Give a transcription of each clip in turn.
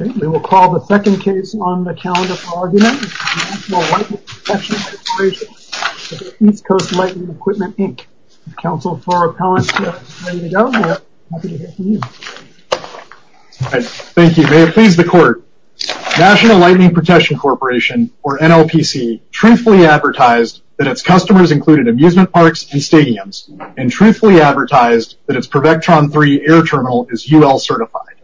Okay, we will call the second case on the calendar for argument, the National Lightning Protection Corporation v. East Coast Lightning Equipment, Inc. Counsel for Appellants, you're ready to go, and we're happy to hear from you. Thank you. May it please the Court. National Lightning Protection Corporation, or NLPC, truthfully advertised that its customers included amusement parks and stadiums, and truthfully advertised that its Prevectron III air terminal is UL certified.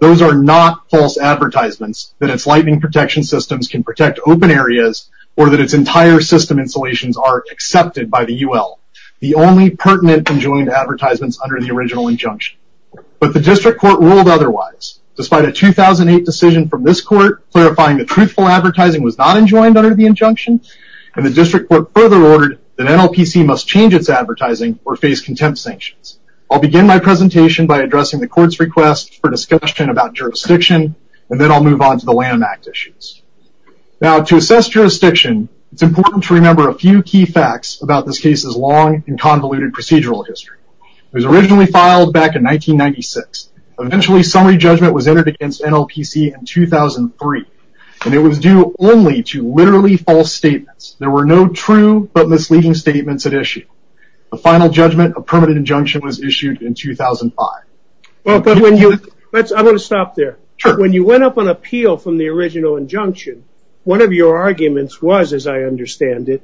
Those are not false advertisements that its lightning protection systems can protect open areas or that its entire system installations are accepted by the UL. The only pertinent enjoined advertisements under the original injunction. But the District Court ruled otherwise. Despite a 2008 decision from this Court clarifying that truthful advertising was not enjoined under the injunction, and the District Court further ordered that NLPC must change its advertising or face contempt sanctions. I'll begin my presentation by addressing the Court's request for discussion about jurisdiction, and then I'll move on to the Lanham Act issues. Now to assess jurisdiction, it's important to remember a few key facts about this case's long and convoluted procedural history. It was originally filed back in 1996. Eventually summary judgment was entered against NLPC in 2003, and it was due only to literally false statements. There were no true but misleading statements at issue. The final judgment, a permanent injunction, was issued in 2005. I'm going to stop there. When you went up on appeal from the original injunction, one of your arguments was, as I understand it,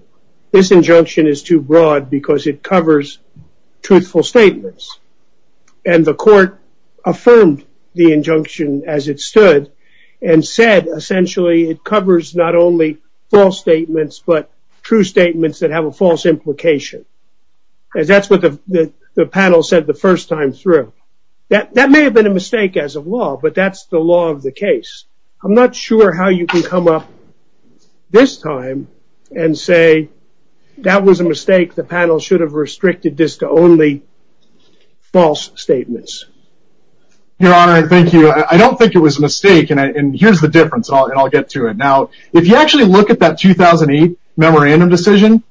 this injunction is too broad because it covers truthful statements. And the Court affirmed the injunction as it stood and said essentially it covers not only false statements but true statements that have a false implication. And that's what the panel said the first time through. That may have been a mistake as of law, but that's the law of the case. I'm not sure how you can come up this time and say that was a mistake, the panel should have restricted this to only false statements. Your Honor, thank you. I don't think it was a mistake, and here's the difference, and I'll get to it. If you actually look at that 2008 memorandum decision,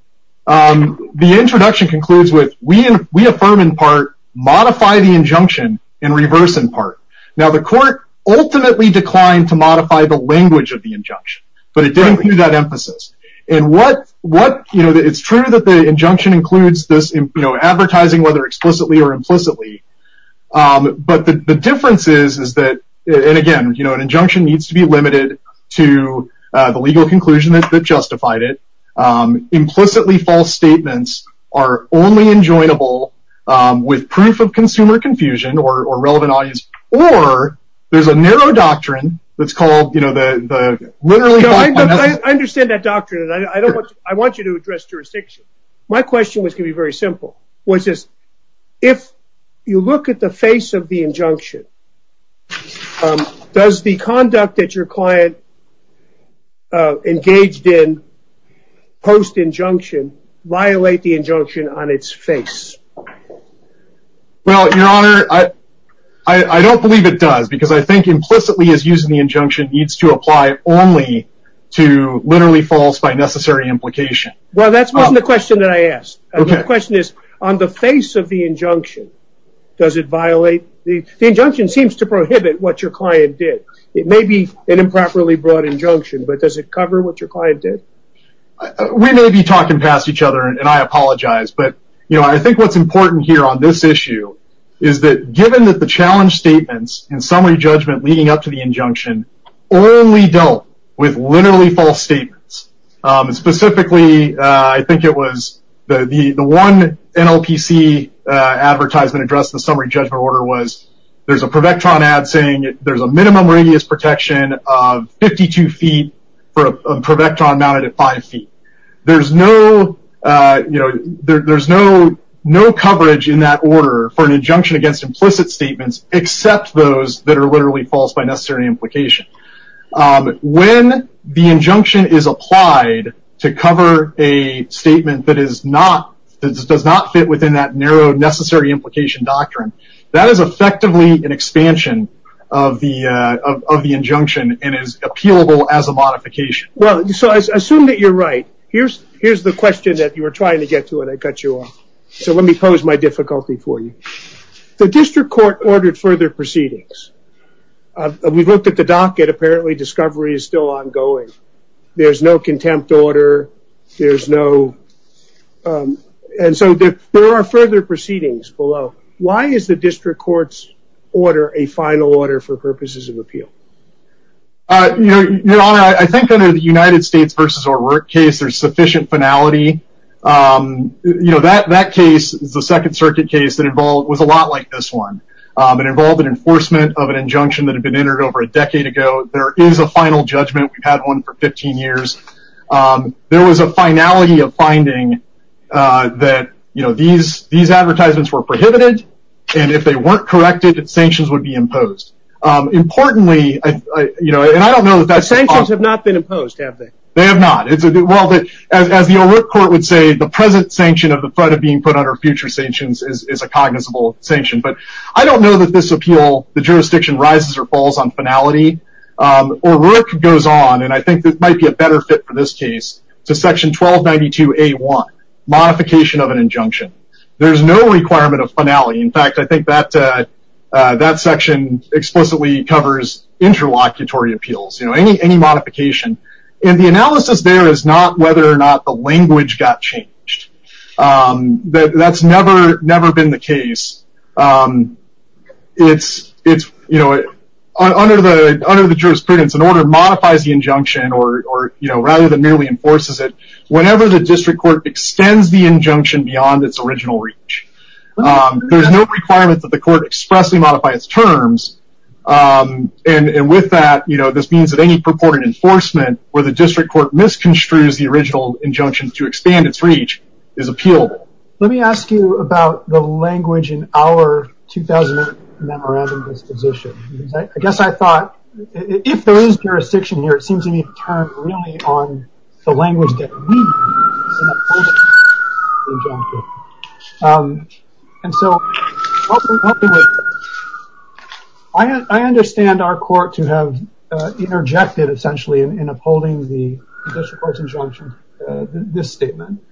the introduction concludes with we affirm in part, modify the injunction, and reverse in part. The Court ultimately declined to modify the language of the injunction, but it didn't include that emphasis. It's true that the injunction includes advertising, whether explicitly or implicitly, but the legal conclusion that justified it. Implicitly false statements are only enjoinable with proof of consumer confusion or relevant audience, or there's a narrow doctrine that's called the literally... I understand that doctrine, and I want you to address jurisdiction. My question was going to be very simple, which is if you look at the face of the injunction, does the conduct that your client engaged in post-injunction violate the injunction on its face? Well, Your Honor, I don't believe it does, because I think implicitly as using the injunction needs to apply only to literally false by necessary implication. Well, that's not the question that I asked. My question is, on the face of the injunction, does it violate... The injunction seems to prohibit what your client did. It may be an improperly brought injunction, but does it cover what your client did? We may be talking past each other, and I apologize, but I think what's important here on this issue is that given that the challenge statements and summary judgment leading up to the injunction only dealt with literally false statements, and specifically, I think it was the one NLPC advertisement addressed the summary judgment order was there's a Prevectron ad saying there's a minimum radius protection of 52 feet for a Prevectron mounted at five feet. There's no coverage in that order for an injunction against implicit statements, except those that are literally false by necessary implication. When the injunction is applied to cover a statement that does not fit within that narrow necessary implication doctrine, that is effectively an expansion of the injunction and is appealable as a modification. Well, so I assume that you're right. Here's the question that you were trying to get to, and I cut you off. So let me pose my difficulty for you. The district court ordered further proceedings. We've looked at the docket. Apparently, discovery is still ongoing. There's no contempt order. There's no... And so there are further proceedings below. Why is the district court's order a final order for purposes of appeal? Your Honor, I think under the United States versus our work case, there's sufficient finality. You know, that case is the Second Circuit case that was a lot like this one. It involved an enforcement of an injunction that had been entered over a decade ago. There is a final judgment. We've had one for 15 years. There was a finality of finding that these advertisements were prohibited, and if they weren't corrected, sanctions would be imposed. Importantly, and I don't know that that's... Sanctions have not been imposed, have they? They have not. Well, as the O'Rourke Court would say, the present sanction of the threat of being put under future sanctions is a cognizable sanction. But I don't know that this appeal, the jurisdiction, rises or falls on finality. O'Rourke goes on, and I think this might be a better fit for this case, to section 1292A1, modification of an injunction. There's no requirement of finality. In fact, I think that section explicitly covers interlocutory appeals. You know, any modification. And the analysis there is not whether or not the language got changed. That's never been the case. It's, you know, under the jurisprudence, an order modifies the injunction or, you know, rather than merely enforces it, whenever the district court extends the injunction beyond its original reach. There's no requirement that the court expressly modify its terms. Um, and with that, you know, this means that any purported enforcement where the district court misconstrues the original injunction to expand its reach is appealed. Let me ask you about the language in our 2008 memorandum disposition. I guess I thought, if there is jurisdiction here, it seems to me to turn really on the language that we need. And so, I understand our court to have interjected essentially in upholding the district court's injunction, this statement.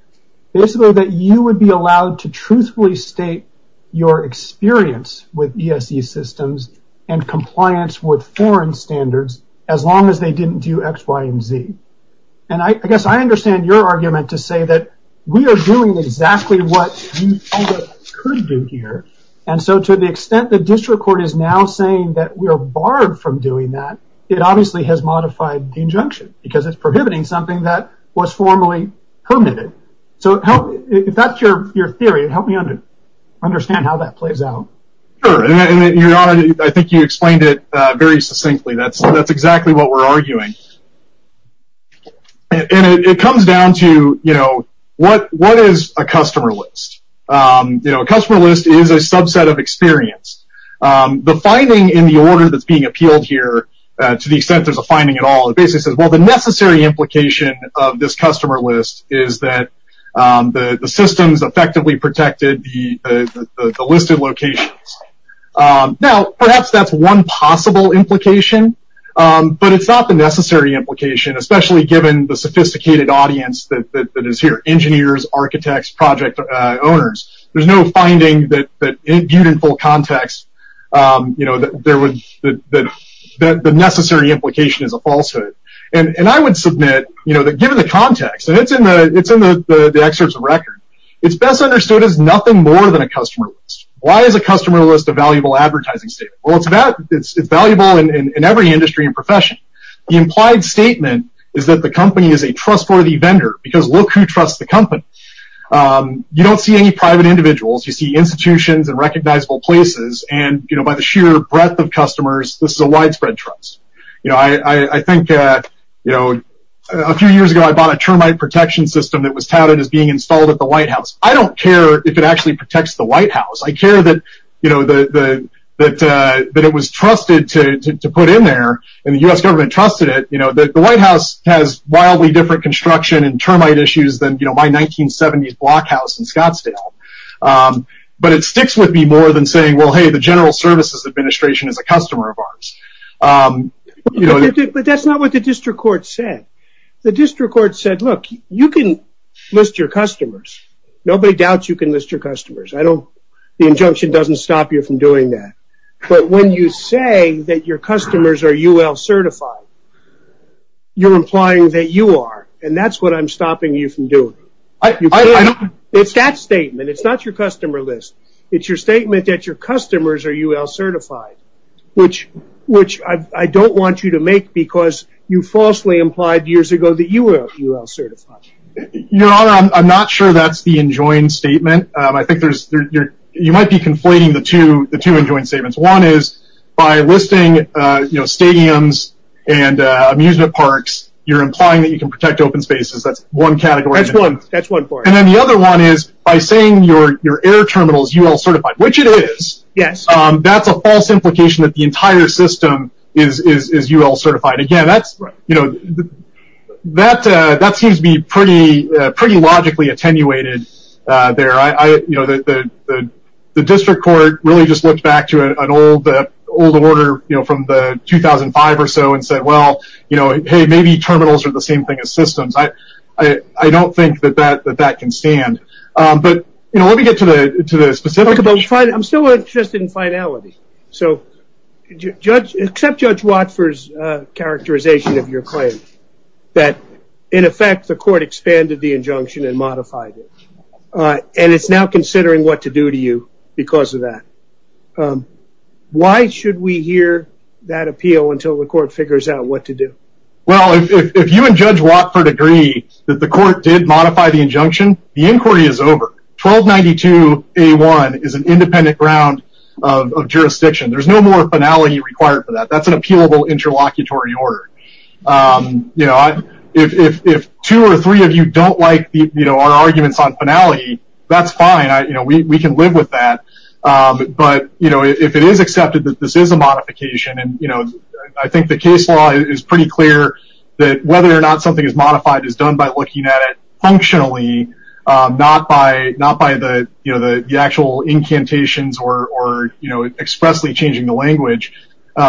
Basically that you would be allowed to truthfully state your experience with ESE systems and compliance with foreign standards as long as they didn't do X, Y, and Z. And I guess I understand your argument to say that we are doing exactly what you thought we could do here. And so, to the extent the district court is now saying that we are barred from doing that, it obviously has modified the injunction because it's prohibiting something that was formally permitted. So, if that's your theory, help me understand how that plays out. Sure, and your honor, I think you explained it very succinctly. That's exactly what we're arguing. And it comes down to, you know, what is a customer list? You know, a customer list is a subset of experience. The finding in the order that's being appealed here, to the extent there's a finding at all, it basically says, well, the necessary implication of this customer list is that the systems effectively protected the listed locations. Now, perhaps that's one possible implication, but it's not the necessary implication, especially given the sophisticated audience that is here, engineers, architects, project owners. There's no finding that, viewed in full context, that the necessary implication is a falsehood. And I would submit, you know, that given the context, and it's in the excerpts of record, it's best understood as nothing more than a customer list. Why is a customer list a valuable advertising statement? It's valuable in every industry and profession. The implied statement is that the company is a trustworthy vendor, because look who trusts the company. You don't see any private individuals. You see institutions and recognizable places. And, you know, by the sheer breadth of customers, this is a widespread trust. You know, I think, you know, a few years ago, I bought a termite protection system that was touted as being installed at the White House. I don't care if it actually protects the White House. I care that, you know, that it was trusted to put in there, and the U.S. government trusted it. You know, the White House has wildly different construction and termite issues than, you know, my 1970s block house in Scottsdale. But it sticks with me more than saying, well, hey, the General Services Administration is a customer of ours. But that's not what the district court said. The district court said, look, you can list your customers. Nobody doubts you can list your customers. The injunction doesn't stop you from doing that. But when you say that your customers are UL certified, you're implying that you are, and that's what I'm stopping you from doing. It's that statement. It's not your customer list. It's your statement that your customers are UL certified, which I don't want you to make because you falsely implied years ago that you were UL certified. Your Honor, I'm not sure that's the enjoined statement. I think you might be conflating the two enjoined statements. One is by listing, you know, stadiums and amusement parks, you're implying that you can protect open spaces. That's one category. That's one. That's one for it. And then the other one is by saying your air terminal is UL certified, which it is. Yes. That's a false implication that the entire system is UL certified. Again, that seems to be pretty logically attenuated there. The district court really just looked back to an old order from the 2005 or so and said, well, you know, hey, maybe terminals are the same thing as systems. I don't think that that can stand. But, you know, let me get to the specific issue. I'm still interested in finality. So judge, except Judge Watford's characterization of your claim, that in effect, the court expanded the injunction and modified it. And it's now considering what to do to you because of that. Why should we hear that appeal until the court figures out what to do? Well, if you and Judge Watford agree that the court did modify the injunction, the inquiry is over. 1292A1 is an independent ground of jurisdiction. There's no more finality required for that. That's an appealable interlocutory order. You know, if two or three of you don't like, you know, our arguments on finality, that's fine. You know, we can live with that. But, you know, if it is accepted that this is a modification and, you know, I think the case law is pretty clear that whether or not something is modified is done by looking at it functionally, not by the, you know, the actual incantations or, you know, expressly changing the language.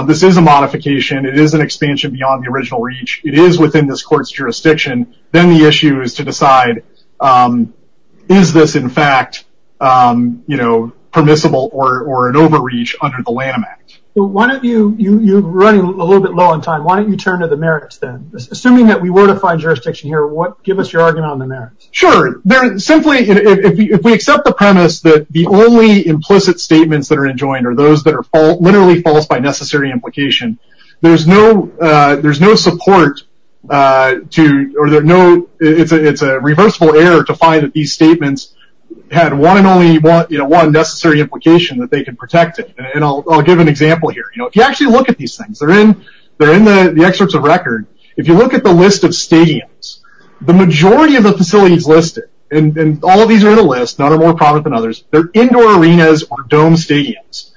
This is a modification. It is an expansion beyond the original reach. It is within this court's jurisdiction. Then the issue is to decide, is this in fact, you know, permissible or an overreach under the Lanham Act? Why don't you, you're running a little bit low on time. Why don't you turn to the merits then? Assuming that we were to find jurisdiction here, give us your argument on the merits. Sure. They're simply, if we accept the premise that the only implicit statements that are enjoined are those that are literally false by necessary implication, there's no support to, or there are no, it's a reversible error to find that these statements had one and only one, you know, one necessary implication that they can protect it. And I'll give an example here. You know, if you actually look at these things, they're in the excerpts of record. If you look at the list of stadiums, the majority of the facilities listed, and all of these are in a list, none are more prominent than others. They're indoor arenas or dome stadiums.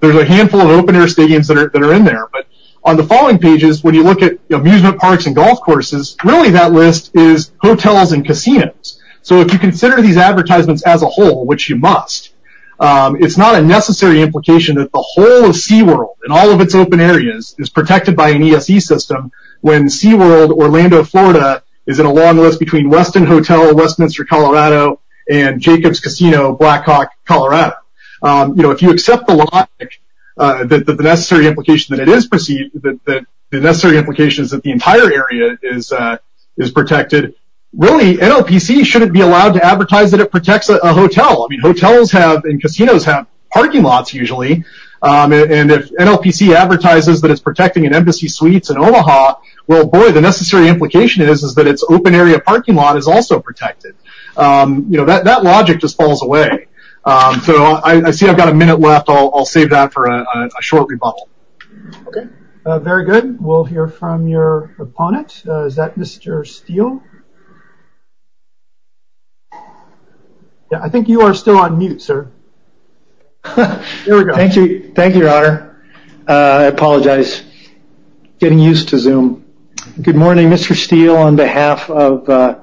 There's a handful of open air stadiums that are in there. But on the following pages, when you look at amusement parks and golf courses, really that list is hotels and casinos. So if you consider these advertisements as a whole, which you must, it's not a necessary implication that the whole of SeaWorld and all of its open areas is protected by an ESE system. When SeaWorld, Orlando, Florida is in a long list between Westin Hotel, Westminster, Colorado, and Jacobs Casino, Blackhawk, Colorado. You know, if you accept the logic that the necessary implication that it is perceived, that the necessary implications that the entire area is protected, really NLPC shouldn't be allowed to advertise that it protects a hotel. I mean, hotels have, and casinos have parking lots usually. And if NLPC advertises that it's protecting an embassy suites in Omaha, well, boy, the necessary implication is, is that it's open area parking lot is also protected. You know, that logic just falls away. So I see I've got a minute left. I'll save that for a short rebuttal. Okay. Very good. We'll hear from your opponent. Is that Mr. Steele? Yeah, I think you are still on mute, sir. Here we go. Thank you. Thank you, your honor. I apologize. Getting used to Zoom. Good morning, Mr. Steele, on behalf of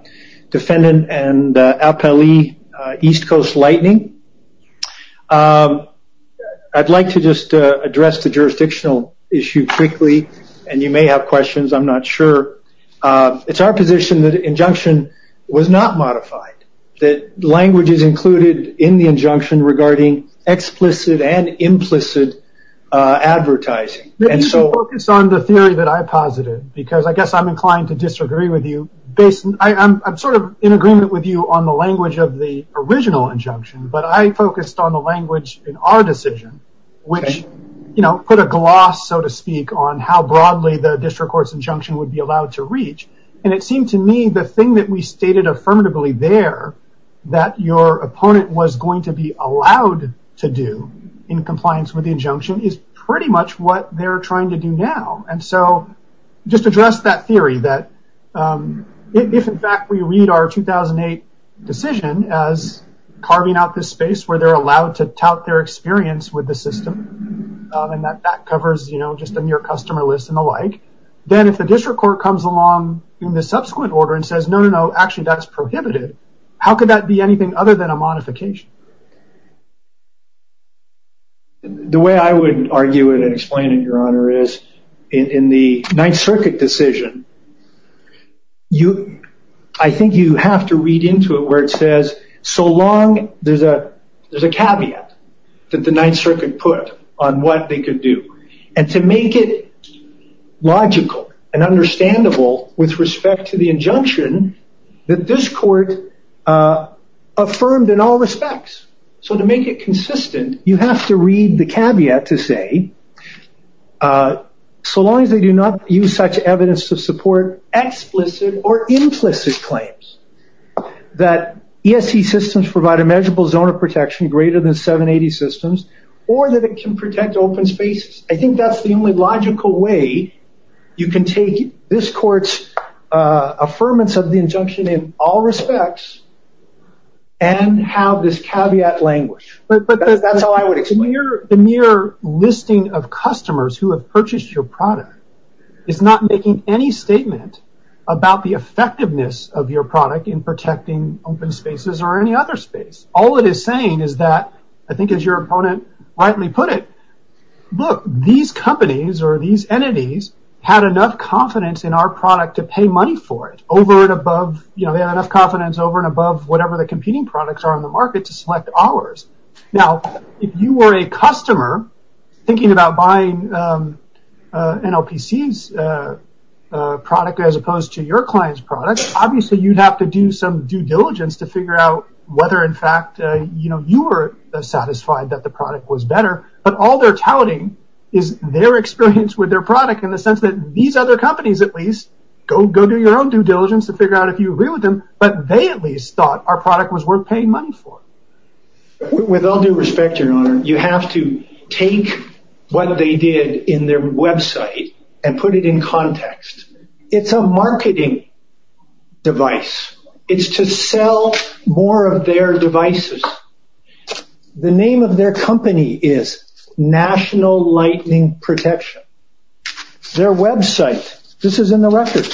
defendant and APLE East Coast Lightning. I'd like to just address the jurisdictional issue quickly. And you may have questions. I'm not sure. It's our position that injunction was not modified. That language is included in the injunction regarding explicit and implicit advertising. Maybe you should focus on the theory that I posited, because I guess I'm inclined to disagree with you. Based on, I'm sort of in agreement with you on the language of the original injunction, but I focused on the language in our decision, which, you know, put a gloss, so to speak, on how broadly the district court's injunction would be allowed to reach. And it seemed to me the thing that we stated affirmatively there that your opponent was going to be allowed to do in compliance with the injunction is pretty much what they're trying to do now. And so just address that theory that if, in fact, we read our 2008 decision as carving out this space where they're allowed to tout their experience with the system, and that covers, you know, just on your customer list and the like, then if the district court comes along in the subsequent order and says, no, no, no, actually that's prohibited. How could that be anything other than a modification? The way I would argue it and explain it, Your Honor, is in the Ninth Circuit decision, you, I think you have to read into it where it says, so long there's a caveat that the Ninth Circuit put on what they could do. And to make it logical and understandable with respect to the injunction that this court affirmed in all respects so to make it consistent, you have to read the caveat to say, so long as they do not use such evidence to support explicit or implicit claims that ESC systems provide a measurable zone of protection greater than 780 systems or that it can protect open spaces. I think that's the only logical way you can take this court's affirmance of the injunction in all respects and have this caveat languished. That's how I would explain it. The mere listing of customers who have purchased your product is not making any statement about the effectiveness of your product in protecting open spaces or any other space. All it is saying is that, I think as your opponent rightly put it, look, these companies or these entities had enough confidence in our product to pay money for it over and above, they have enough confidence over and above whatever the competing products are on the market to select ours. Now, if you were a customer thinking about buying NLPC's product as opposed to your client's product, obviously you'd have to do some due diligence to figure out whether in fact you were satisfied that the product was better, but all they're touting is their experience with their product in the sense that these other companies at least, go do your own due diligence to figure out if you agree with them, but they at least thought our product was worth paying money for. With all due respect, your honor, you have to take what they did in their website and put it in context. It's a marketing device. It's to sell more of their devices. The name of their company is National Lightning Protection. Their website, this is in the record,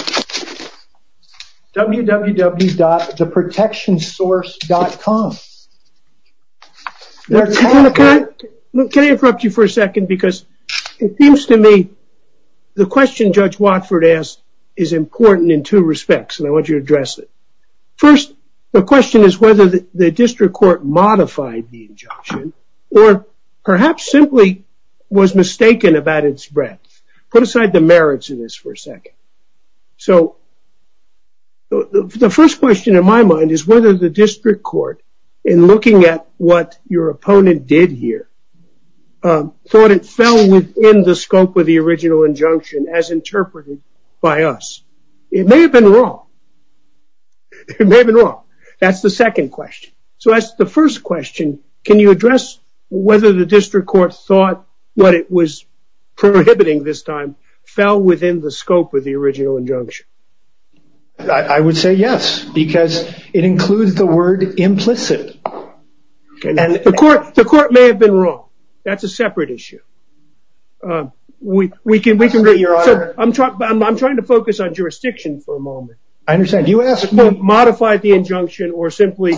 www.theprotectionsource.com. Can I interrupt you for a second? Because it seems to me the question Judge Watford asked is important in two respects and I want you to address it. First, the question is whether the district court modified the injunction or perhaps simply was mistaken about its breadth. Put aside the merits of this for a second. So the first question in my mind is whether the district court in looking at what your opponent did here thought it fell within the scope of the original injunction as interpreted by us. It may have been wrong. It may have been wrong. That's the second question. So that's the first question. Can you address whether the district court thought what it was prohibiting this time fell within the scope of the original injunction? I would say yes. Because it includes the word implicit. The court may have been wrong. That's a separate issue. I'm trying to focus on jurisdiction for a moment. I understand. You asked me. Modified the injunction or simply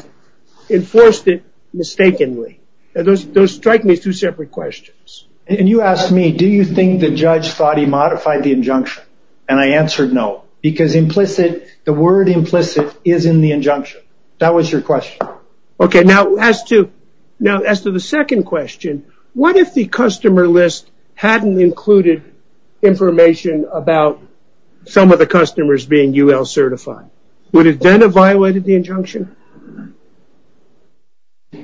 enforced it mistakenly. Those strike me as two separate questions. And you asked me, do you think the judge thought he modified the injunction? And I answered no. Because implicit, the word implicit is in the injunction. That was your question. Okay. Now as to the second question, what if the customer list hadn't included information about some of the customers being UL certified? Would it then have violated the injunction? The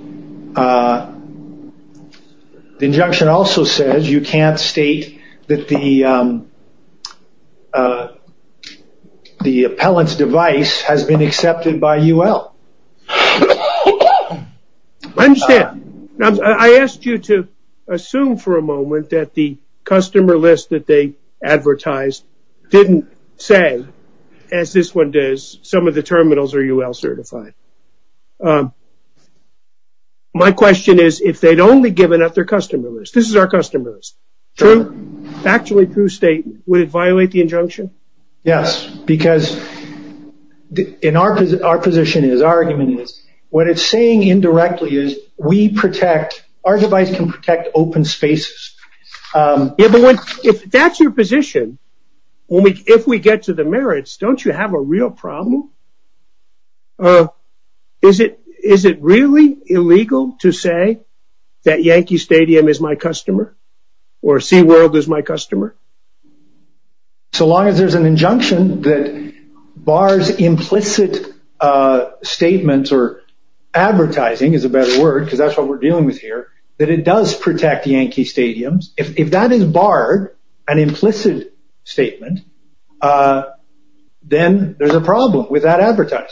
injunction also says you can't state that the appellant's device has been accepted by UL. I understand. I asked you to assume for a moment that the customer list that they advertised didn't say, as this one does, some of the terminals are UL certified. My question is, if they'd only given up their customer list. This is our customer list. True? Actually true statement. Would it violate the injunction? Yes. Because in our position is, our argument is, what it's saying indirectly is, we protect, our device can protect open spaces. If that's your position, if we get to the merits, don't you have a real problem? Is it really illegal to say that Yankee Stadium is my customer? Or SeaWorld is my customer? So long as there's an injunction that bars implicit statements or advertising is a better word, because that's what we're dealing with here, that it does protect Yankee Stadiums. If that is barred, an implicit statement, then there's a problem with that advertising.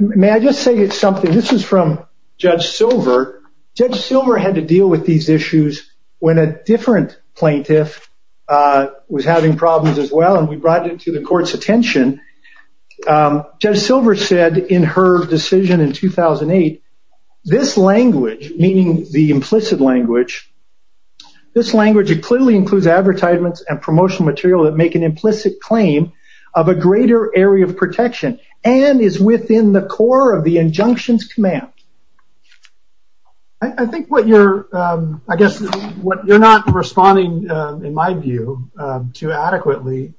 May I just say something? This is from Judge Silver. Judge Silver had to deal with these issues when a different plaintiff was having problems as well. And we brought it to the court's attention. Judge Silver said in her decision in 2008, this language, meaning the implicit language, this language, it clearly includes advertisements and promotional material that make an implicit claim of a greater area of protection and is within the core of the injunctions command. I think what you're, I guess, what you're not responding, in my view, to adequately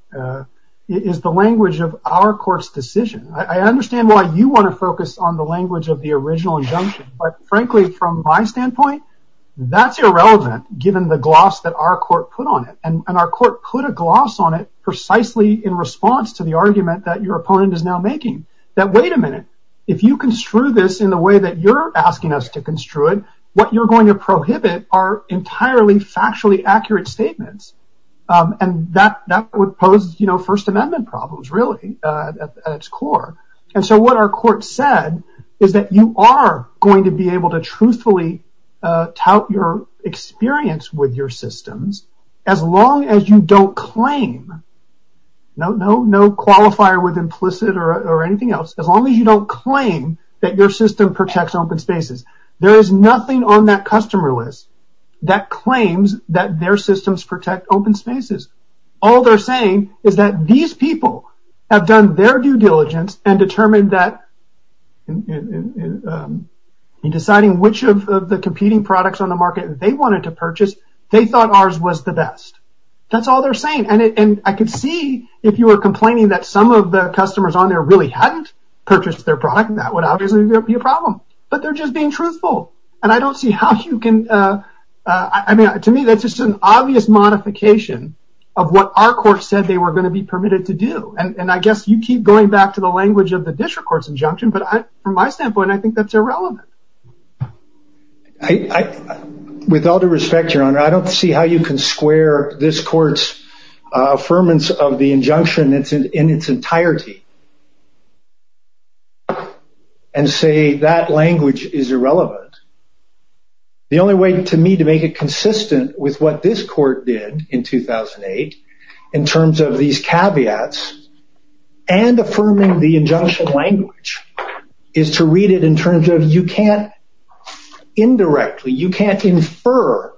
is the language of our court's decision. I understand why you want to focus on the language of the original injunction. But frankly, from my standpoint, that's irrelevant, given the gloss that our court put on it. And our court put a gloss on it precisely in response to the argument that your opponent is now making. That, wait a minute, if you construe this in the way that you're asking us to construe it, what you're going to prohibit are entirely factually accurate statements. And that would pose, you know, First Amendment problems, really, at its core. And so what our court said is that you are going to be able to truthfully tout your experience with your systems, as long as you don't claim, no qualifier with implicit or anything else, as long as you don't claim that your system protects open spaces. There is nothing on that customer list that claims that their systems protect open spaces. All they're saying is that these people have done their due diligence and determined that in deciding which of the competing products on the market they wanted to purchase, they thought ours was the best. That's all they're saying. And I could see if you were complaining that some of the customers on there really hadn't purchased their product. That would obviously be a problem. But they're just being truthful. And I don't see how you can. I mean, to me, that's just an obvious modification of what our court said they were going to be permitted to do. And I guess you keep going back to the language of the district court's injunction. But from my standpoint, I think that's irrelevant. With all due respect, Your Honor, I don't see how you can square this court's affirmance of the injunction in its entirety. And say that language is irrelevant. The only way to me to make it consistent with what this court did in 2008, in terms of these caveats and affirming the injunction language is to read it in terms of you can't indirectly, you can't infer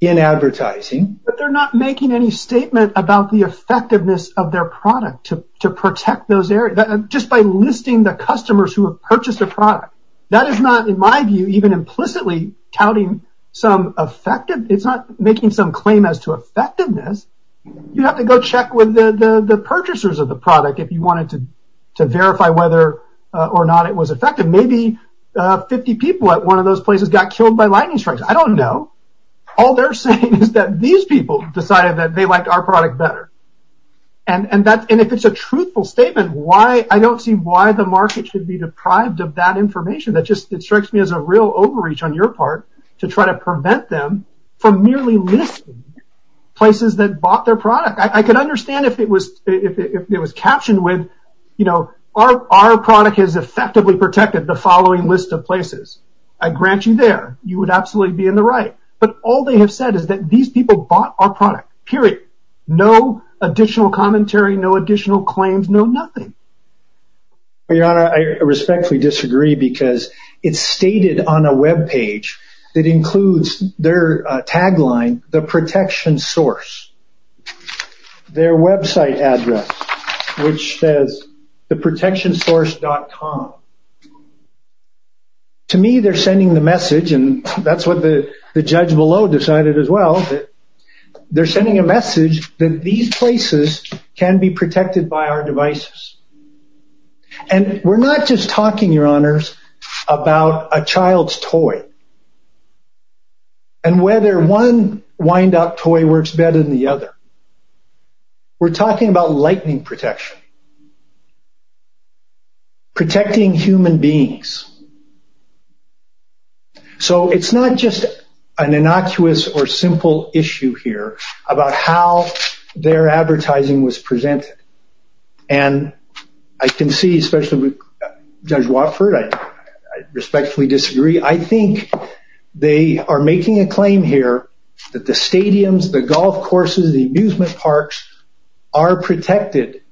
in advertising. But they're not making any statement about the effectiveness of their product to protect those areas. Just by listing the customers who have purchased a product. That is not, in my view, even implicitly touting some effective. It's not making some claim as to effectiveness. You have to go check with the purchasers of the product if you wanted to verify whether or not it was effective. Maybe 50 people at one of those places got killed by lightning strikes. I don't know. All they're saying is that these people decided that they liked our product better. And if it's a truthful statement, I don't see why the market should be deprived of that information. That just strikes me as a real overreach on your part to try to prevent them from merely listing places that bought their product. I can understand if it was captioned with, our product is effectively protected the following list of places. I grant you there, you would absolutely be in the right. But all they have said is that these people bought our product, period. No additional commentary, no additional claims, no nothing. Your Honor, I respectfully disagree because it's stated on a web page that includes their tagline, the protection source. Their website address, which says theprotectionsource.com. To me, they're sending the message. And that's what the judge below decided as well. They're sending a message that these places can be protected by our devices. And we're not just talking, Your Honors, about a child's toy. And whether one wind-up toy works better than the other. We're talking about lightning protection. Protecting human beings. So it's not just an innocuous or simple issue here about how their advertising was presented. And I can see, especially with Judge Watford, I respectfully disagree. I think they are making a claim here that the stadiums, the golf courses, the amusement parks are protected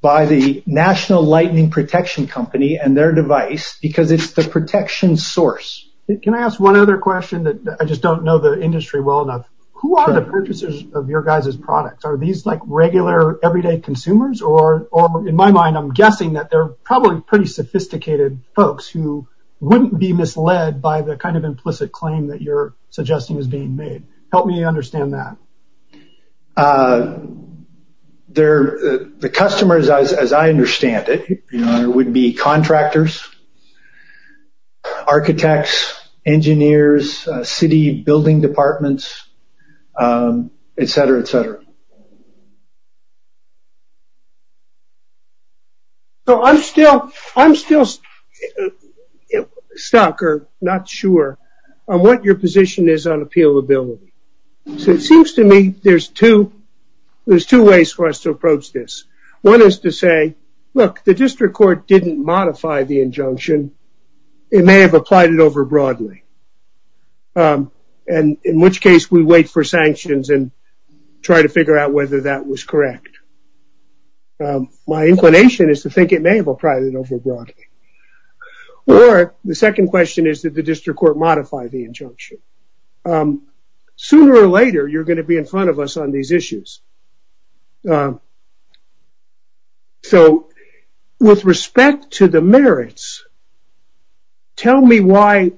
by the National Lightning Protection Company and their device because it's the protection source. Can I ask one other question that I just don't know the industry well enough? Who are the purchasers of your guys' products? Are these like regular, everyday consumers? Or in my mind, I'm guessing that they're probably pretty sophisticated folks who wouldn't be misled by the kind of implicit claim that you're suggesting is being made. Help me understand that. They're the customers, as I understand it, would be contractors, architects, engineers, city building departments, et cetera, et cetera. So I'm still stuck or not sure on what your position is on appealability. So it seems to me there's two ways for us to approach this. One is to say, look, the district court didn't modify the injunction. It may have applied it over broadly, and in which case, we wait for sanctions and try to figure out whether that was correct. My inclination is to think it may have applied it over broadly. Or the second question is that the district court modified the injunction. Sooner or later, you're going to be in front of us on these issues. So with respect to the merits, tell me why,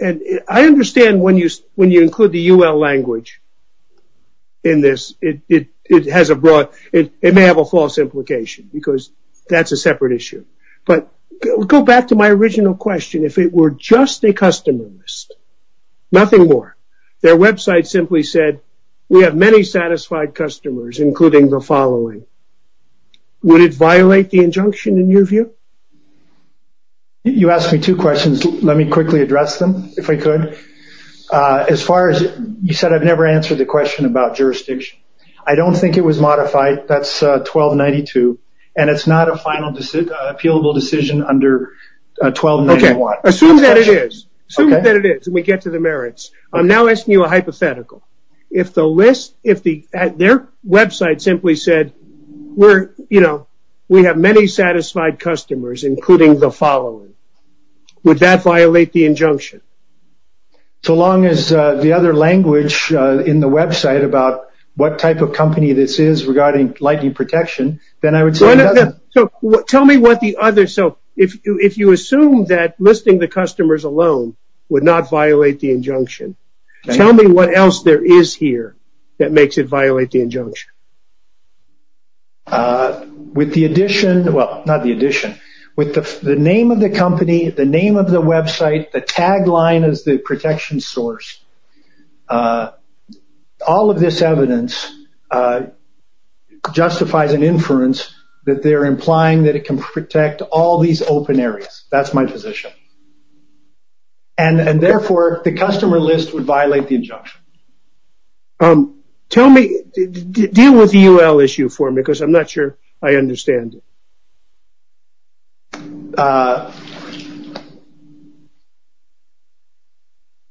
and I understand when you include the UL language in this, it may have a false implication, because that's a separate issue. But go back to my original question. If it were just a customer list, nothing more. Their website simply said, we have many satisfied customers, including the following. Would it violate the injunction in your view? You asked me two questions. Let me quickly address them, if I could. As far as you said, I've never answered the question about jurisdiction. I don't think it was modified. That's 1292, and it's not a final appealable decision under 1291. Assume that it is. We get to the merits. I'm now asking you a hypothetical. Their website simply said, we have many satisfied customers, including the following. Would that violate the injunction? So long as the other language in the website about what type of company this is regarding lighting protection, then I would say... Tell me what the other... So if you assume that listing the customers alone would not violate the injunction, tell me what else there is here that makes it violate the injunction. With the addition... Well, not the addition. With the name of the company, the name of the website, the tagline is the protection source. All of this evidence justifies an inference that they're implying that it can protect all these open areas. That's my position. And therefore, the customer list would violate the injunction. Tell me... Deal with the UL issue for me because I'm not sure I understand it. Uh...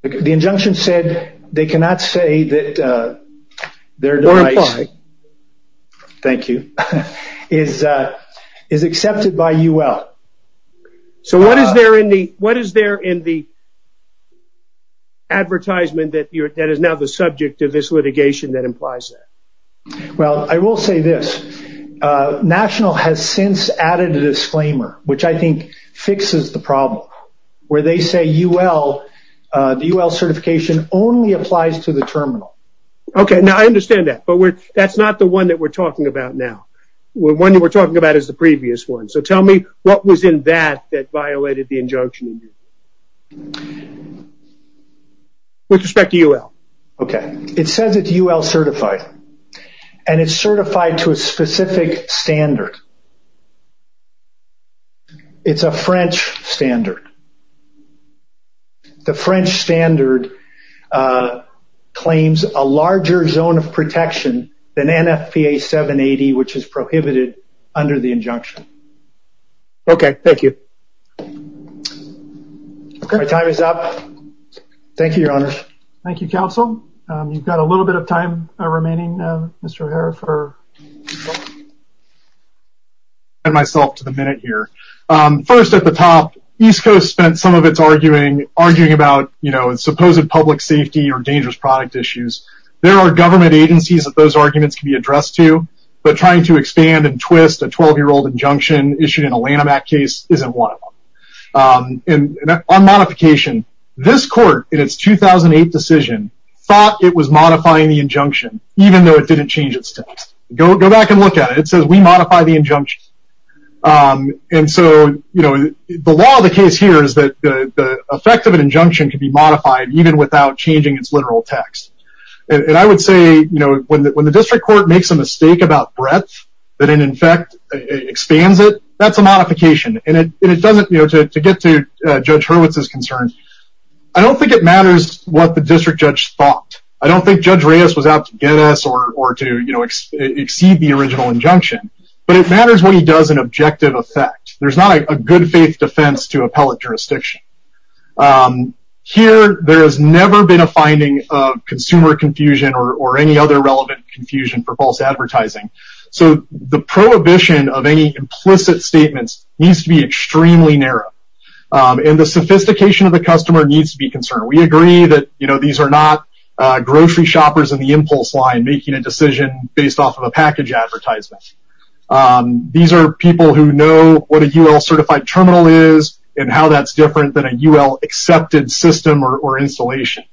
The injunction said they cannot say that their device... Thank you. Is accepted by UL. So what is there in the... What is there in the advertisement that is now the subject of this litigation that implies that? Well, I will say this. National has since added a disclaimer, which I think fixes the problem, where they say UL... The UL certification only applies to the terminal. Okay, now I understand that, but that's not the one that we're talking about now. The one you were talking about is the previous one. So tell me what was in that that violated the injunction with respect to UL. Okay, it says it's UL certified and it's certified to a specific standard. It's a French standard. The French standard claims a larger zone of protection than NFPA 780, which is prohibited under the injunction. Okay, thank you. Okay, time is up. Thank you, your honor. Thank you, counsel. You've got a little bit of time remaining, Mr. O'Hara, for... ...and myself to the minute here. First at the top, East Coast spent some of its arguing about, you know, supposed public safety or dangerous product issues. There are government agencies that those arguments can be addressed to, but trying to expand and twist a 12-year-old injunction issued in a Lanham Act case isn't one of them. And on modification, this court in its 2008 decision thought it was modifying the injunction, even though it didn't change its text. Go back and look at it. It says we modify the injunction. And so, you know, the law of the case here is that the effect of an injunction could be modified even without changing its literal text. And I would say, you know, when the district court makes a mistake about breadth that in effect expands it, that's a modification. And it doesn't, you know, to get to Judge Hurwitz's concern, I don't think it matters what the district judge thought. I don't think Judge Reyes was out to get us or to exceed the original injunction, but it matters when he does an objective effect. There's not a good faith defense to appellate jurisdiction. Here, there has never been a finding of consumer confusion or any other relevant confusion for false advertising. So the prohibition of any implicit statements needs to be extremely narrow. And the sophistication of the customer needs to be concerned. We agree that, you know, these are not grocery shoppers in the impulse line making a decision based off of a package advertisement. These are people who know what a UL certified terminal is and how that's different than a UL accepted system or installation.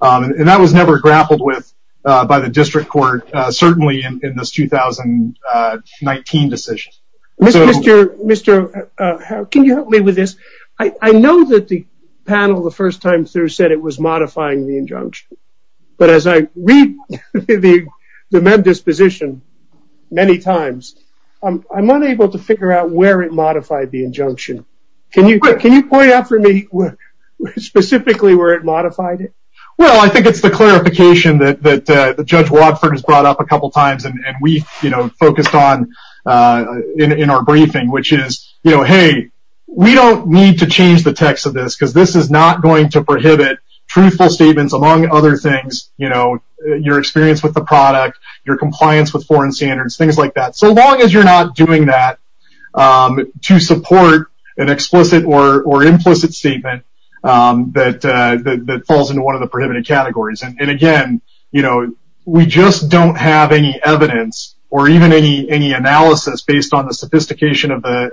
And that was never grappled with by the district court, certainly in this 2019 decision. Mr. Harrell, can you help me with this? I know that the panel the first time through said it was modifying the injunction. But as I read the MED disposition many times, I'm not able to figure out where it modified the injunction. Can you point out for me specifically where it modified it? Well, I think it's the clarification that Judge Wadford has brought up a couple of times and we've, you know, focused on in our briefing, which is, you know, hey, we don't need to change the text of this because this is not going to prohibit truthful statements among other things, you know, your experience with the product, your compliance with foreign standards, things like that. So long as you're not doing that to support an explicit or implicit statement that falls into one of the prohibited categories. And again, you know, we just don't have any evidence or even any analysis based on the sophistication of the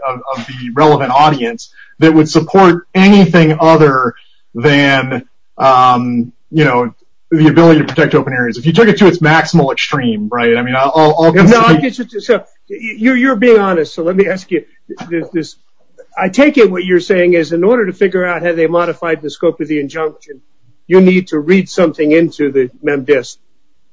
relevant audience that would support anything other than, you know, the ability to protect open areas. If you took it to its maximal extreme, right, I mean, I'll... So you're being honest. So let me ask you this. I take it what you're saying is in order to figure out how they modified the scope of the injunction, you need to read something into the MemDisc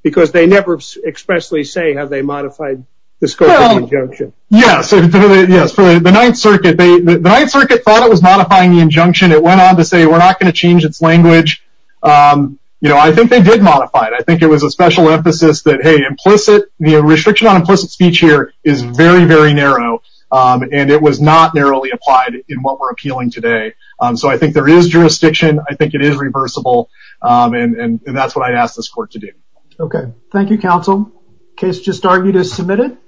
because they never expressly say how they modified the scope of the injunction. Yes, yes. For the Ninth Circuit, the Ninth Circuit thought it was modifying the injunction. It went on to say, we're not going to change its language. You know, I think they did modify it. I think it was a special emphasis that, hey, implicit, the restriction on implicit speech here is very, very narrow and it was not narrowly applied in what we're appealing today. So I think there is jurisdiction. I think it is reversible. And that's what I'd ask this court to do. Okay. Thank you, counsel. Case just argued is submitted.